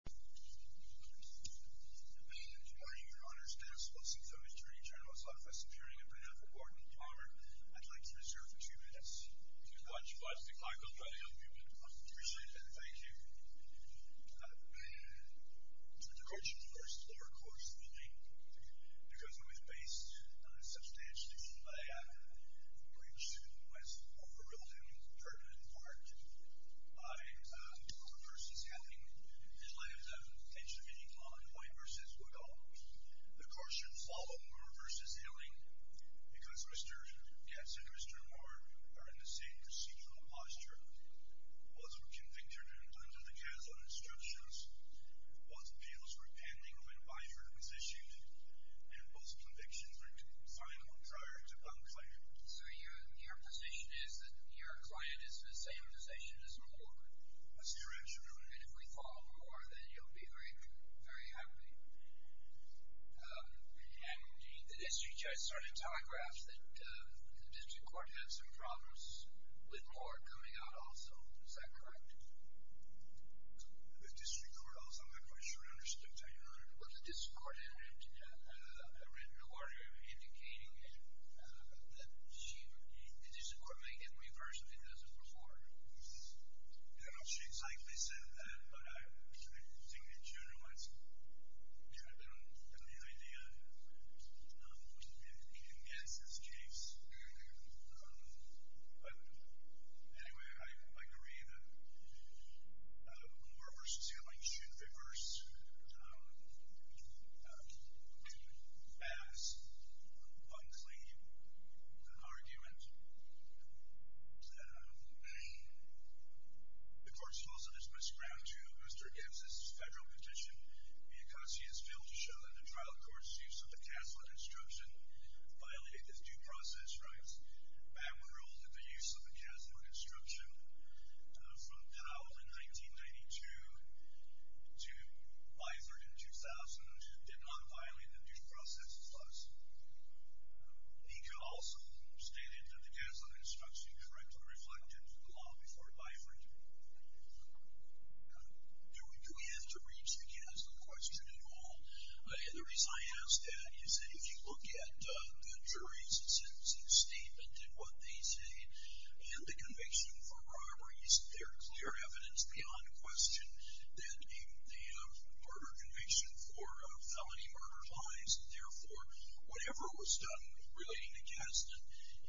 Good morning, your Honor's guests. Well, since the Attorney General's Office is appearing in print now for Gordon Palmer, I'd like to reserve for two minutes. If you'd like to decline, we'll try to help you. I'd appreciate it. Thank you. I'm too divergent, of course, to deliver a course of the evening, because I was based on a substantial issue by a British student who has overruled him, and I've heard it in part. I, Gordon v. Helling, in light of the Pennsylvania law in White v. Woodall, the course should follow Moore v. Helling, because Mr. Getz and Mr. Moore are in the same procedural posture. Once we're convicted under the casual instructions, once appeals were pending when Byford was issued, and both convictions were final prior to Buncleier. So your position is that your client is in the same position as Moore? That's correct, Your Honor. And if we follow Moore, then you'll be very happy? And the district judge started telegraphs that the district court had some problems with Moore coming out also. Is that correct? The district court also, I'm not quite sure I understood, Your Honor. The district court had written a warning indicating that the district court may get reversed if it doesn't perform. I don't know if she exactly said that, but I think the judge wants to get an idea. He can guess his case. But anyway, I agree that Moore v. Helling should reverse to pass Buncleier the argument that the court should also dismiss ground to Mr. Getz's federal petition. Because he has failed to show that the trial court's use of the casual instruction violated its due process rights. Bamwin ruled that the use of the casual instruction from Dowell in 1992 to Biford in 2000 did not violate the due process clause. He could also state that the casual instruction correctly reflected the law before Biford. Do we have to reach the casual question at all? The reason I ask that is if you look at the jury's sentencing statement and what they say and the conviction for robberies, there's clear evidence beyond question that in the murder conviction for felony murder lies. Therefore, whatever was done relating to Getz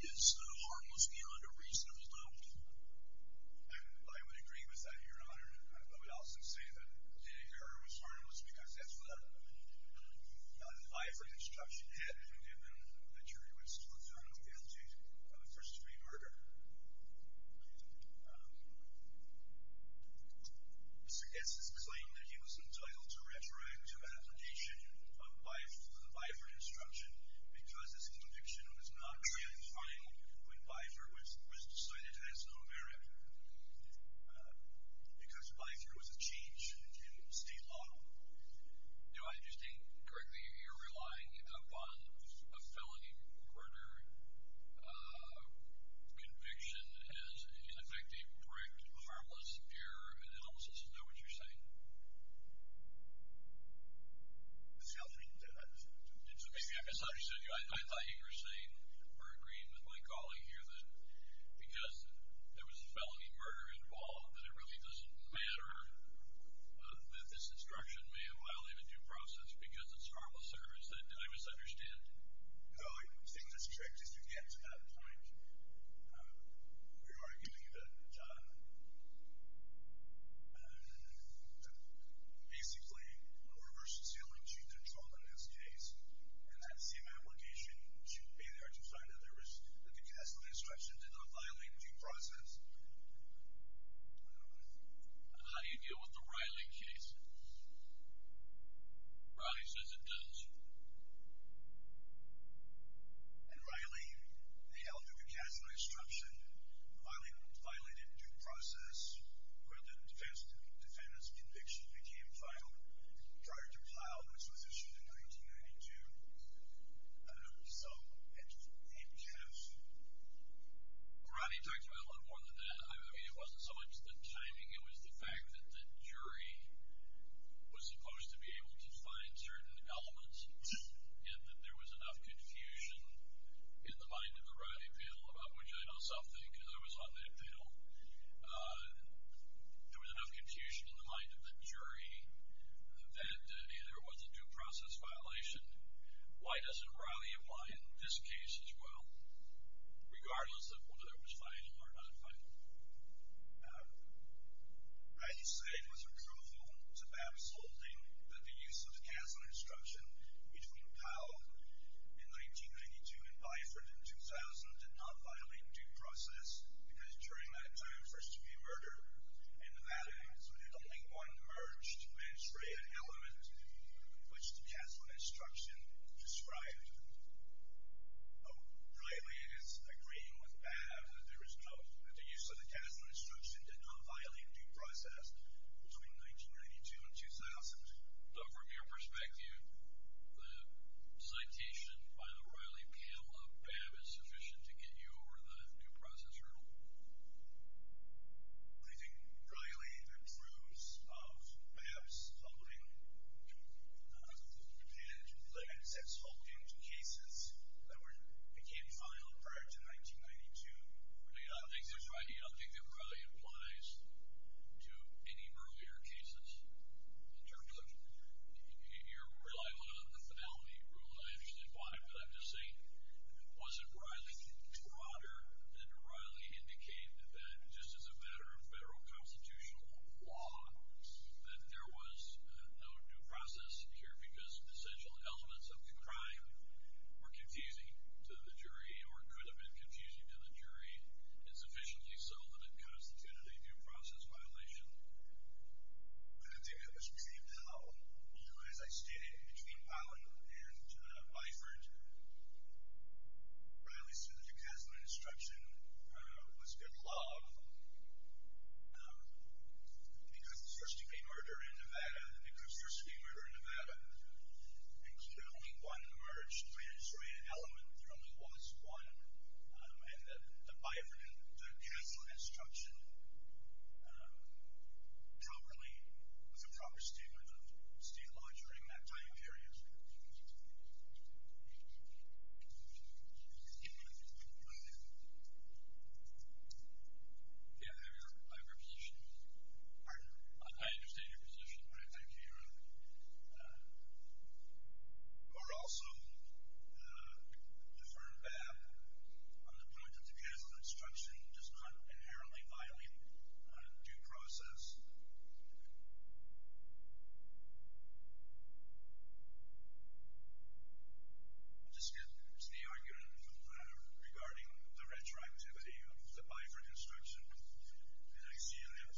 is harmless beyond a reasonable doubt. I would agree with that, Your Honor. I would also say that the error was harmless because that's what a Biford instruction had given the jury was fraternal guilty of a first-degree murder. Mr. Getz's claim that he was entitled to a rhetoric to an application of Biford for the Biford instruction because his conviction was not really final when Biford was decided as no merit. Because Biford was a change in state law. Do I understand correctly? You're relying upon a felony murder conviction as an effective, correct, harmless, pure analysis. Is that what you're saying? That's how he did it. So maybe I misunderstood you. I thought you were saying or agreeing with my calling here that because there was felony murder involved, that it really doesn't matter that this instruction may or may not leave a due process because it's harmless error. Did I misunderstand you? No, I think the trick is to get to that point where you're arguing that basically a reverse assailant should control the next case and that same application should be there to decide whether there was a concassinate instruction that did not violate a due process. How do you deal with the Riley case? Riley says it does. In Riley, they held a concassinate instruction that violated a due process where the defendant's conviction became final prior to Plow, which was issued in 1992. So, it's a game changer. Riley talked about a lot more than that. I mean, it wasn't so much the timing. It was the fact that the jury was supposed to be able to find certain elements and that there was enough confusion in the mind of the Riley panel, about which I don't self-think because I was on that panel. There was enough confusion in the mind of the jury that if there was a due process violation, why doesn't Riley apply in this case as well, regardless of whether it was final or not final? Riley said it was a proof of absolutely that the use of the concassinate instruction between Plow in 1992 and Byford in 2000 did not violate due process because during that time there was to be a murder. And that is the only one merged, menstruated element which the concassinate instruction described. Riley is agreeing with Babb that the use of the concassinate instruction did not violate due process between 1992 and 2000. So, from your perspective, the citation by the Riley panel of Babb is sufficient to get you over the due process hurdle? Do you think Riley approves of Babb's holding and Babb's ex-holding to cases that became filed prior to 1992? I think that Riley applies to any earlier cases. In terms of your reliance on the finality rule, I understand why, but I'm just saying, was it Riley's monitor that Riley indicated that just as a matter of federal constitutional law, that there was no due process here because essential elements of the crime were confusing to the jury or could have been confusing to the jury and sufficiently so that it constituted a due process violation? I don't think it was received well. As I stated, between Plow and Byford, Riley said the concassinate instruction was good law because the first degree murder in Nevada and because the first degree murder in Nevada included only one murder. We had a jury element. There only was one. And that the Byford and the concassinate instruction properly was a proper statement of state law during that time period. Do you see what I'm saying? Yeah, I have your position. Pardon? I understand your position. All right, thank you. But also, the deferred back on the point of the concassinate instruction does not inherently violate a due process. Thank you. I'm just going to move to the argument regarding the retroactivity of the Byford instruction. And I see you have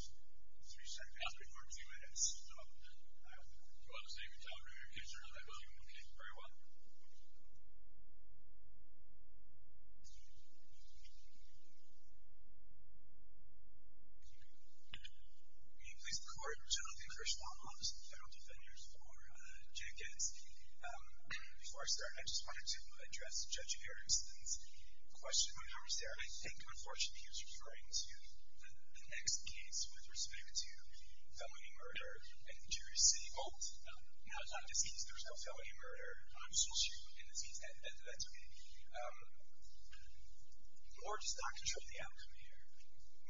three seconds or two minutes. So, I have to close the interview. Is there another one? Okay, very well. May it please the Court, I'm generally the first law office and federal defender for Jack Getz. Before I start, I just wanted to address Judge Garrison's question when he was there. I think, unfortunately, he was referring to the next case with respect to felony murder and interior city vault. Now, it's not a deceased. There was no felony murder. I'm just going to shoot him in the feet. That's okay. Or does the doctor show the outcome here?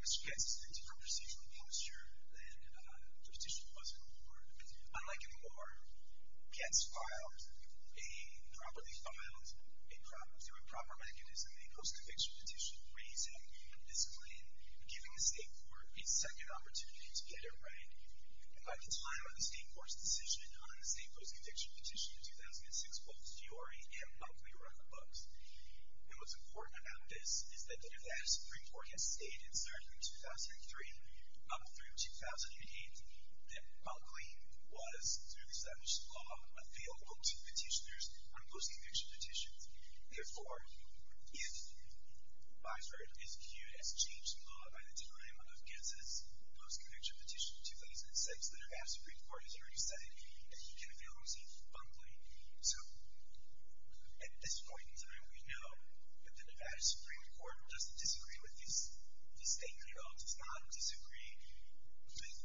Mr. Getz is in a different procedural posture than the petitioner was in the court. Unlike in the law, Getz filed, a properly filed, through a proper mechanism, a post-conviction petition raising a discipline, giving the state court a second opportunity to get it right. By the time of the state court's decision on the state post-conviction petition in 2006, both the jury and public were on the books. And what's important about this is that the Nevada Supreme Court has stated, starting in 2003, up through 2008, that Buckley was, through established law, available to petitioners on post-conviction petitions. Therefore, if my jury is viewed as changing the law by the time of Getz's post-conviction petition in 2006, the Nevada Supreme Court has already said that he can avail himself of Buckley. So, at this point in time, we know that the Nevada Supreme Court doesn't disagree with these state codes, does not disagree with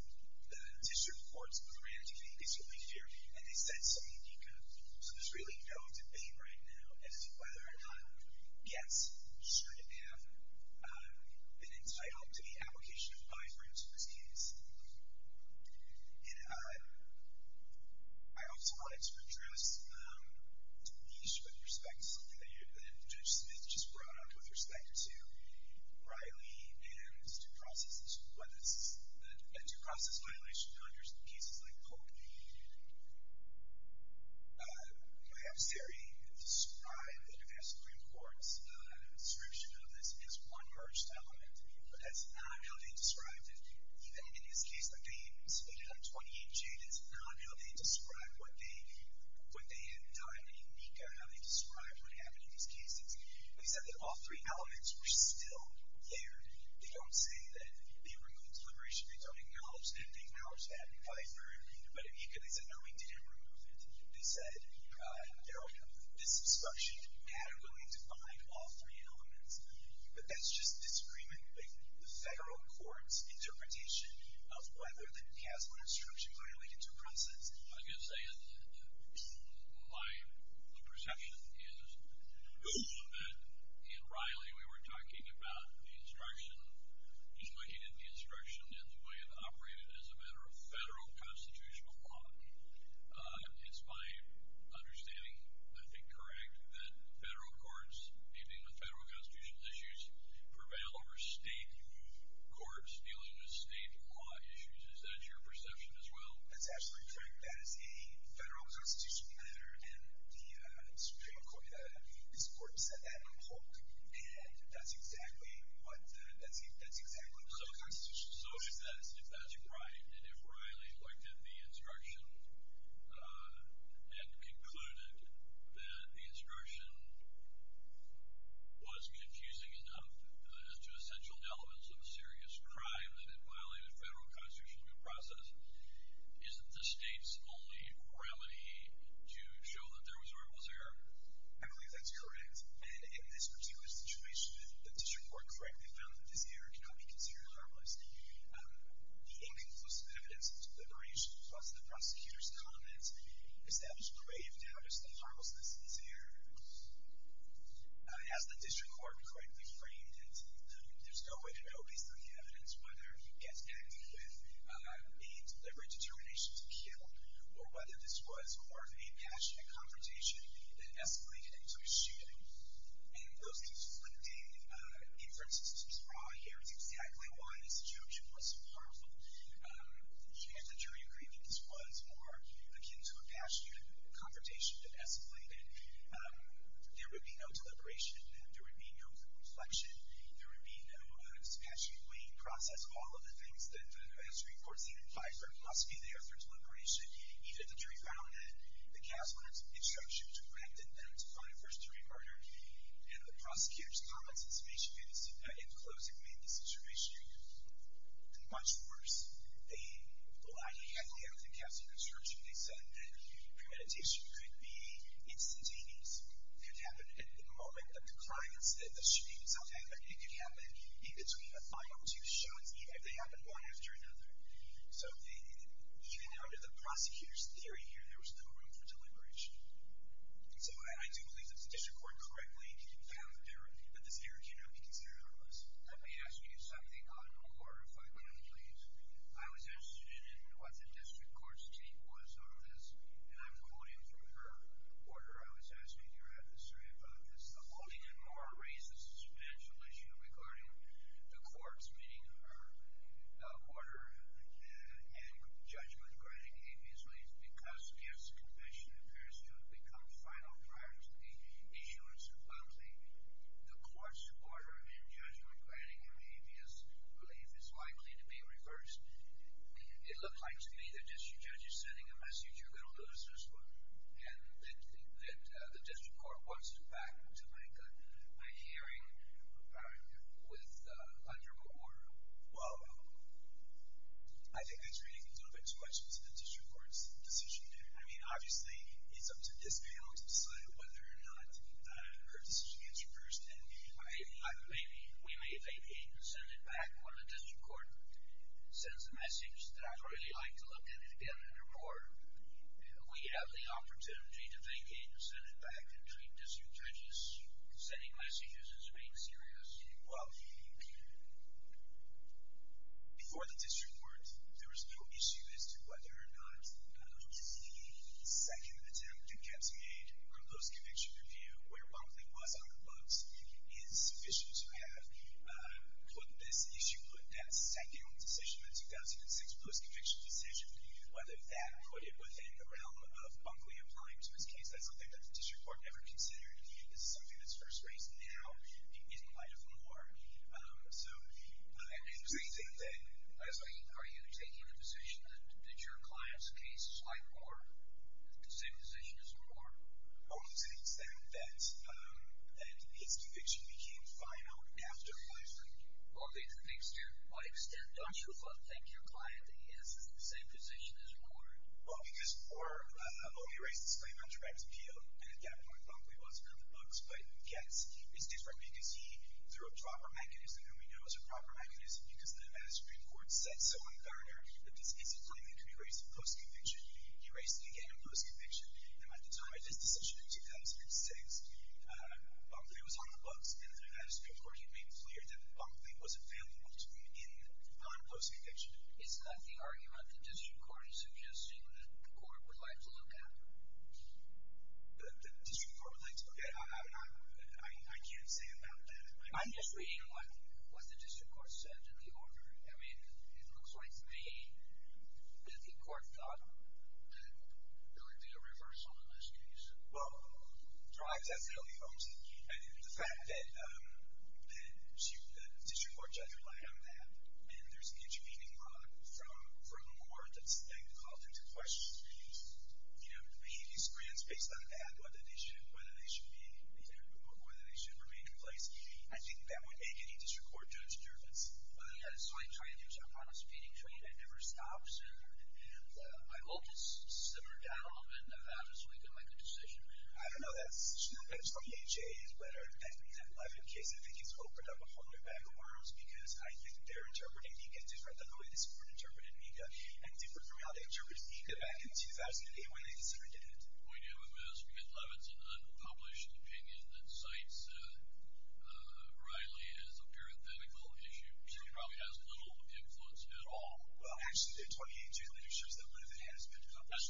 the district court's grant to get a district lease here, and they said so in DECA. So there's really no debate right now as to whether or not Getz should have been entitled to the application of five rooms for his case. And I also wanted to address a niche with respect to something that Judge Smith just brought up with respect to Riley and due process violations under cases like Coke. My adversary described the Nevada Supreme Court's description of this as one merged element, but that's not how they described it, even in this case, like they stated on 28J, that's not how they described what they had done in DECA, how they described what happened in these cases. They said that all three elements were still layered. They don't say that they removed deliberation. They don't acknowledge that. They acknowledged that in five rooms. But in DECA, they said, no, we didn't remove it. They said there'll be a discussion and we'll need to find all three elements. But that's just disagreement. The federal court's interpretation of whether the CAS law instruction is related to a process. I guess my perception is that in Riley, we were talking about the instruction, he's looking at the instruction and the way it operated as a matter of federal constitutional law. It's my understanding, I think, correct, that federal courts, even with federal constitutional issues, prevail over state courts dealing with statewide issues. Is that your perception as well? That's absolutely correct. That is a federal constitutional matter. And the Supreme Court, this court said that in a book. And that's exactly what the federal constitutional law is. So if that's right, and if Riley looked at the instruction and concluded that the instruction was confusing enough as to essential elements of a serious crime that it violated federal constitutional due process, isn't the state's only remedy to show that there was a rival's error? I believe that's correct. In this particular situation, the district court correctly found that this error cannot be considered a rivalist. The inconclusive evidence of deliberation brought to the prosecutor's comment established grave doubt as to the rival's innocence of error. As the district court correctly framed it, there's no way to know based on the evidence whether he gets acted with a deliberate determination to kill or whether this was part of a passionate confrontation that escalated into a shooting. And those conflicting inferences brought here is exactly why this situation was so powerful. And the jury agreed that this was more akin to a passionate confrontation that escalated. There would be no deliberation. There would be no confliction. There would be no dispassionately in process. All of the things that the district court said in Fifer must be there for deliberation. Either the jury found that the casement instruction directed them to find a first-degree murder, and the prosecutor's comments in closing made the situation much worse. Well, I have the casement instruction. They said that premeditation could be instantaneous. It could happen at the moment that the shooting itself happened. It could happen in between the final two shots, even if they happened one after another. So even under the prosecutor's theory here, there was no room for deliberation. So I do believe that the district court correctly found that the theory cannot be considered harmless. Let me ask you something on quarter 5, please. I was interested in what the district court's take was on this, and I'm quoting from her quarter. I was asking your officer about this. The only and more racist financial issue regarding the courts, meaning her quarter, and judgment-grinding behavior, is because, if the conviction appears to have become final prior to the issuance of a plea, the court's quarter and judgment-grinding behavior's belief is likely to be reversed. It looked like to me the district judge is sending a message, you're going to lose this one, and that the district court wants it back to make a hearing with under what order? Well, I think that's reading a little bit too much into the district court's decision there. I mean, obviously, it's up to this panel to decide whether or not her decision gets reversed. Maybe we may vacate and send it back when the district court sends a message that I'd really like to look at it again under what order. We have the opportunity to vacate and send it back between district judges. Sending messages is being serious. Well, before the district court, there was no issue as to whether or not the second attempt at getting a post-conviction review where Bunkley was on the books is sufficient to have put this issue, put that second decision, that 2006 post-conviction decision, whether that put it within the realm of Bunkley applying to his case. That's something that the district court never considered. It's something that's first raised now in light of more. It's amazing that... Are you taking the position that your client's case is quite horrible, the same position as horrible? Well, it's the extent that his conviction became final after 5-3. Well, it's the extent, don't you think, your client, that he has the same position as horrible? Well, because for a lowly racist claim on direct appeal, and at that point, Bunkley wasn't on the books, it's different because he threw a proper mechanism, and we know it was a proper mechanism because the Nevada Supreme Court said so on Thursday that this is a claim that could be raised in post-conviction. He raised it again in post-conviction, and by the time of his decision in 2006, Bunkley was on the books, and the Nevada Supreme Court had made it clear that Bunkley was available to begin on post-conviction. Is that the argument the district court is suggesting that the court would like to look at? The district court would like to look at it? I can't say about that. I'm just reading what the district court said in the order. I mean, it looks like to me that the court thought that there would be a reversal in this case. Well, I definitely hope so, and the fact that the district court judge relied on that, and there's an intervening product from the court that's then called into question. You know, making these grants based on that, whether they should remain in place, I think that would make any district court judge nervous. Well, they've got a sign trying to do something on a speeding train that never stops, and I hope it's simmered down a little bit and the Nevada Supreme Court make a decision. I don't know. I think it's open up a whole new bag of worms because I think they're interpreting Nika different than the way this court interpreted Nika and different from how they interpreted Nika back in 2008 when they considered it. We do, because Levitt's an unpublished opinion that cites, rightly, as a parenthetical issue, which probably has little influence at all. Well, actually, the 2018 literature says that Levitt has been unpublished.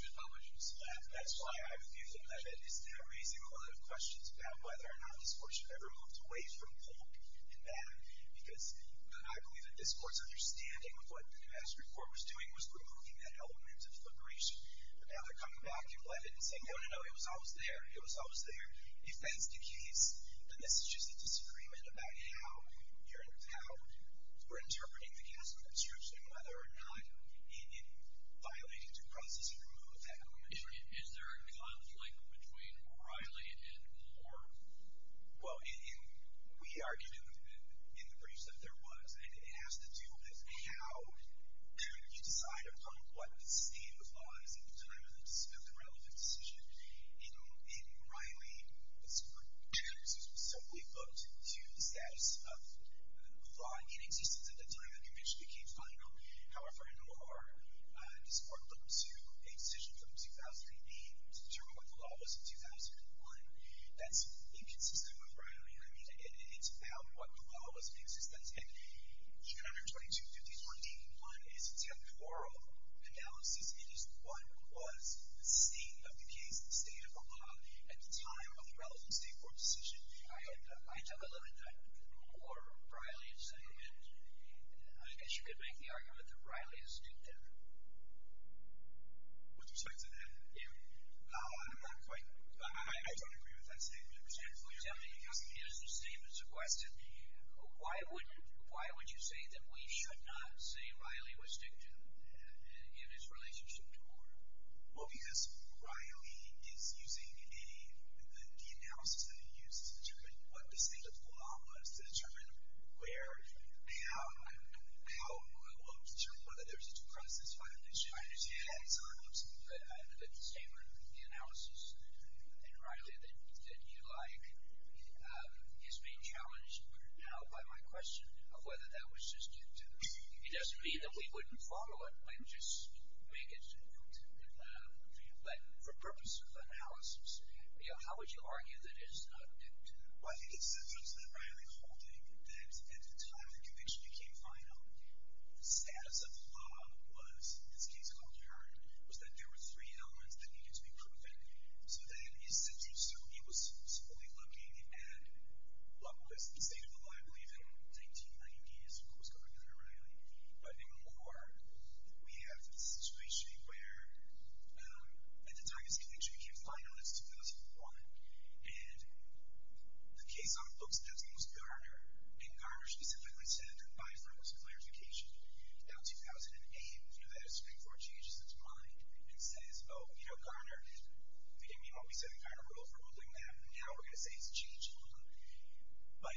That's why I view that Levitt is now raising a lot of questions about whether or not this court should ever move away from Polk and that, because I believe that this court's understanding of what the Nevada Supreme Court was doing was removing that element of liberation. Now they're coming back in Levitt and saying, no, no, no, it was always there. It was always there. If that's the case, then this is just a disagreement about how we're interpreting the cast of the church and whether or not it violated the process of removal of that element. Is there a conflict between O'Reilly and Moore? Well, we argued in the briefs that there was, and it has to do with how could you decide upon what the state of law is at the time of the disposed and relevant decision. In O'Reilly's briefs, it was simply put to the status of law in existence at the time the conviction became final. However, in Moore, this court looked to a decision from 2008 to determine what the law was in 2001. That's inconsistent with O'Reilly. I mean, it's about what the law was in existence. 222.51d1 is a temporal analysis. It is what was the state of the case, the state of the law, at the time of the relevant state court decision. I don't agree with that. Or O'Reilly's argument. I guess you could make the argument that O'Reilly's did that. With respect to that, no, I'm not quite... I don't agree with that statement. I'm simply asking you as the statement's requested, why would you say that we should not say O'Reilly was victim in his relationship to Moore? Well, because O'Reilly is using the analysis that he used to determine what the state of the law was to determine whether there was a due process by which he had his arms. But the statement, the analysis in O'Reilly that you like is being challenged now by my question of whether that was just due to... It doesn't mean that we wouldn't follow it when just we get to know it. But for purpose of analysis, how would you argue that it's not due to... Well, I think it's evidence that O'Reilly holding that at the time the conviction became final, the status of the law was, in this case called Hearn, was that there were three elements that needed to be proven. So then he was fully looking at what was the state of the law, I believe, in the 1990s, what was going on in O'Reilly. But in Moore, we have the situation where at the time his conviction became final, it's 2001, and the case on the books that day was Garner, and Garner specifically said, and by far it was a clarification, that 2008, if you know that history before, changes its mind and says, oh, you know, Garner, we didn't mean what we said in Garner, we're overruling that, and now we're going to say it's changed. But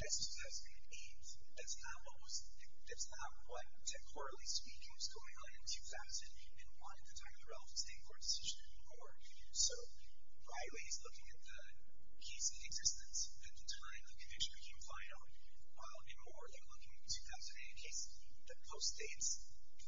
that's 2008. That's not what was... That's not what, decorally speaking, was going on in 2000, and why at the time of the Ralph and Sting court decision in Moore. So O'Reilly's looking at the case in existence at the time the conviction became final, while in Moore they're looking at 2008, a case that postdates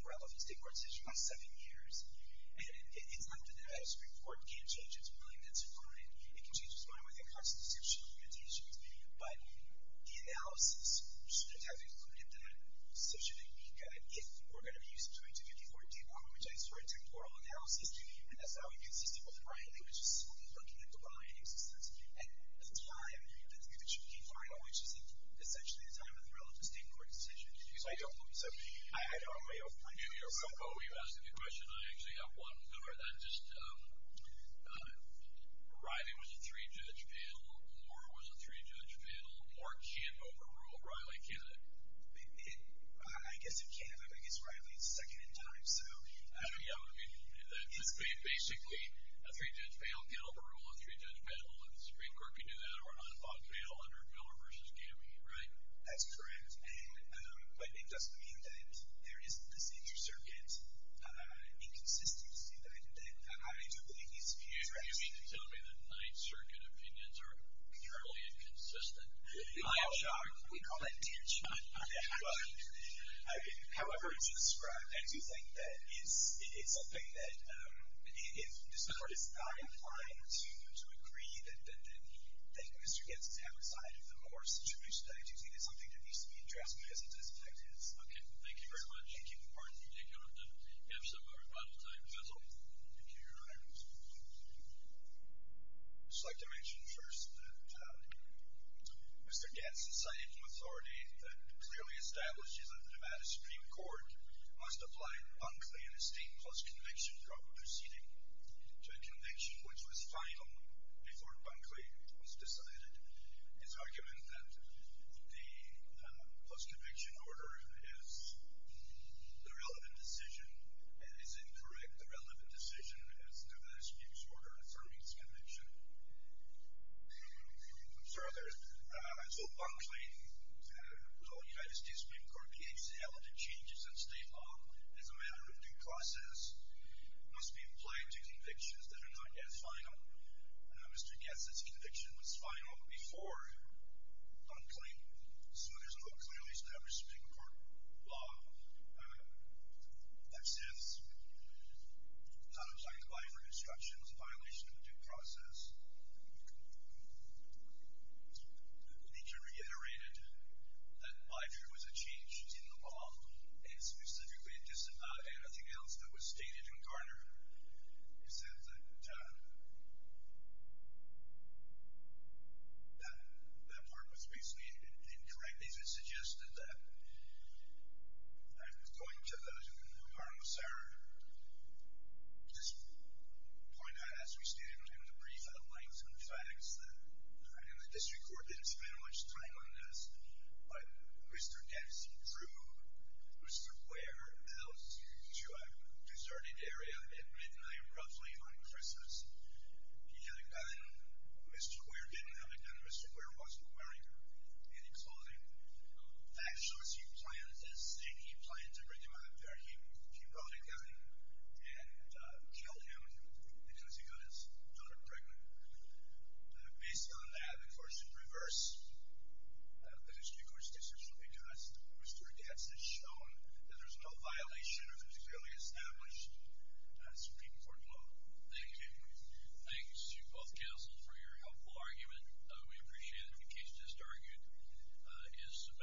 Ralph and Sting court decision by seven years, and it's not that this report can't change its mind, that's fine, it can change its mind within constitutional limitations, but the analysis should have included that decision. If we're going to be using 2054 to demonetize for a temporal analysis, that's how we can see Stephen O'Reilly was simply looking at the line in existence at the time the conviction became final, which is essentially the time of the Ralph and Sting court decision. So I don't believe... Oh, you asked a good question. I actually have one. That's just, O'Reilly was a three-judge panel, Moore was a three-judge panel, or Camp overruled O'Reilly, can't it? I guess it can't, I mean, it's O'Reilly's second in time, so... I don't know, I mean, basically, a three-judge panel can't overrule a three-judge panel, and the Supreme Court can do that, or an unthought panel under Miller versus Camp, right? That's correct, but it doesn't mean that there isn't this inter-circuit inconsistency that I do believe needs to be addressed. So you mean to tell me that nine-circuit opinions are entirely inconsistent? I am shocked. We call that tension. However, to describe, I do think that it's something that, if the Supreme Court is not inclined to agree that Mr. Getz's havoc side of the Moore situation is something that needs to be addressed, because it is effective. Okay, thank you very much. Thank you. Pardon me. Take care of the episode, everybody. Thank you. Thank you, Your Honor. Thank you. I'd just like to mention first that Mr. Getz has cited from authority that it clearly establishes that the Nevada Supreme Court must apply Bunkley and his state clause conviction from proceeding to a conviction which was final before Bunkley was decided. His argument that the post-conviction order is the relevant decision is incorrect. The relevant decision is Nevada Supreme Court affirming its conviction. Further, so Bunkley, the Ohio State Supreme Court, the ACL, the changes in state law as a matter of due process must be applied to convictions that are not yet final. Mr. Getz's conviction was final before Bunkley, so there's no clearly established Supreme Court law that says how to apply for destruction as a violation of a due process. Nietzsche reiterated that life was a change in the law and specifically it doesn't have anything else that was stated in Garner. He said that that part was basically incorrect. Nietzsche suggested that I'm going to the harmless error just point out as we stand in the brief I'd like some facts that the district court didn't spend much time on this but Mr. Getz drew Mr. Queer out to a deserted area at midnight roughly on Christmas. He had a gun and Mr. Queer didn't have a gun and Mr. Queer wasn't wearing any clothing. Fact shows he planned to bring his mother there. He brought a gun and killed him because he got his daughter pregnant. Based on that, the court should reverse the district court's decision because Mr. Getz has shown that there's no violation of the clearly established Supreme Court law. Thank you. Thanks to both counsels for your helpful argument. We appreciate it. The case just argued is submitted.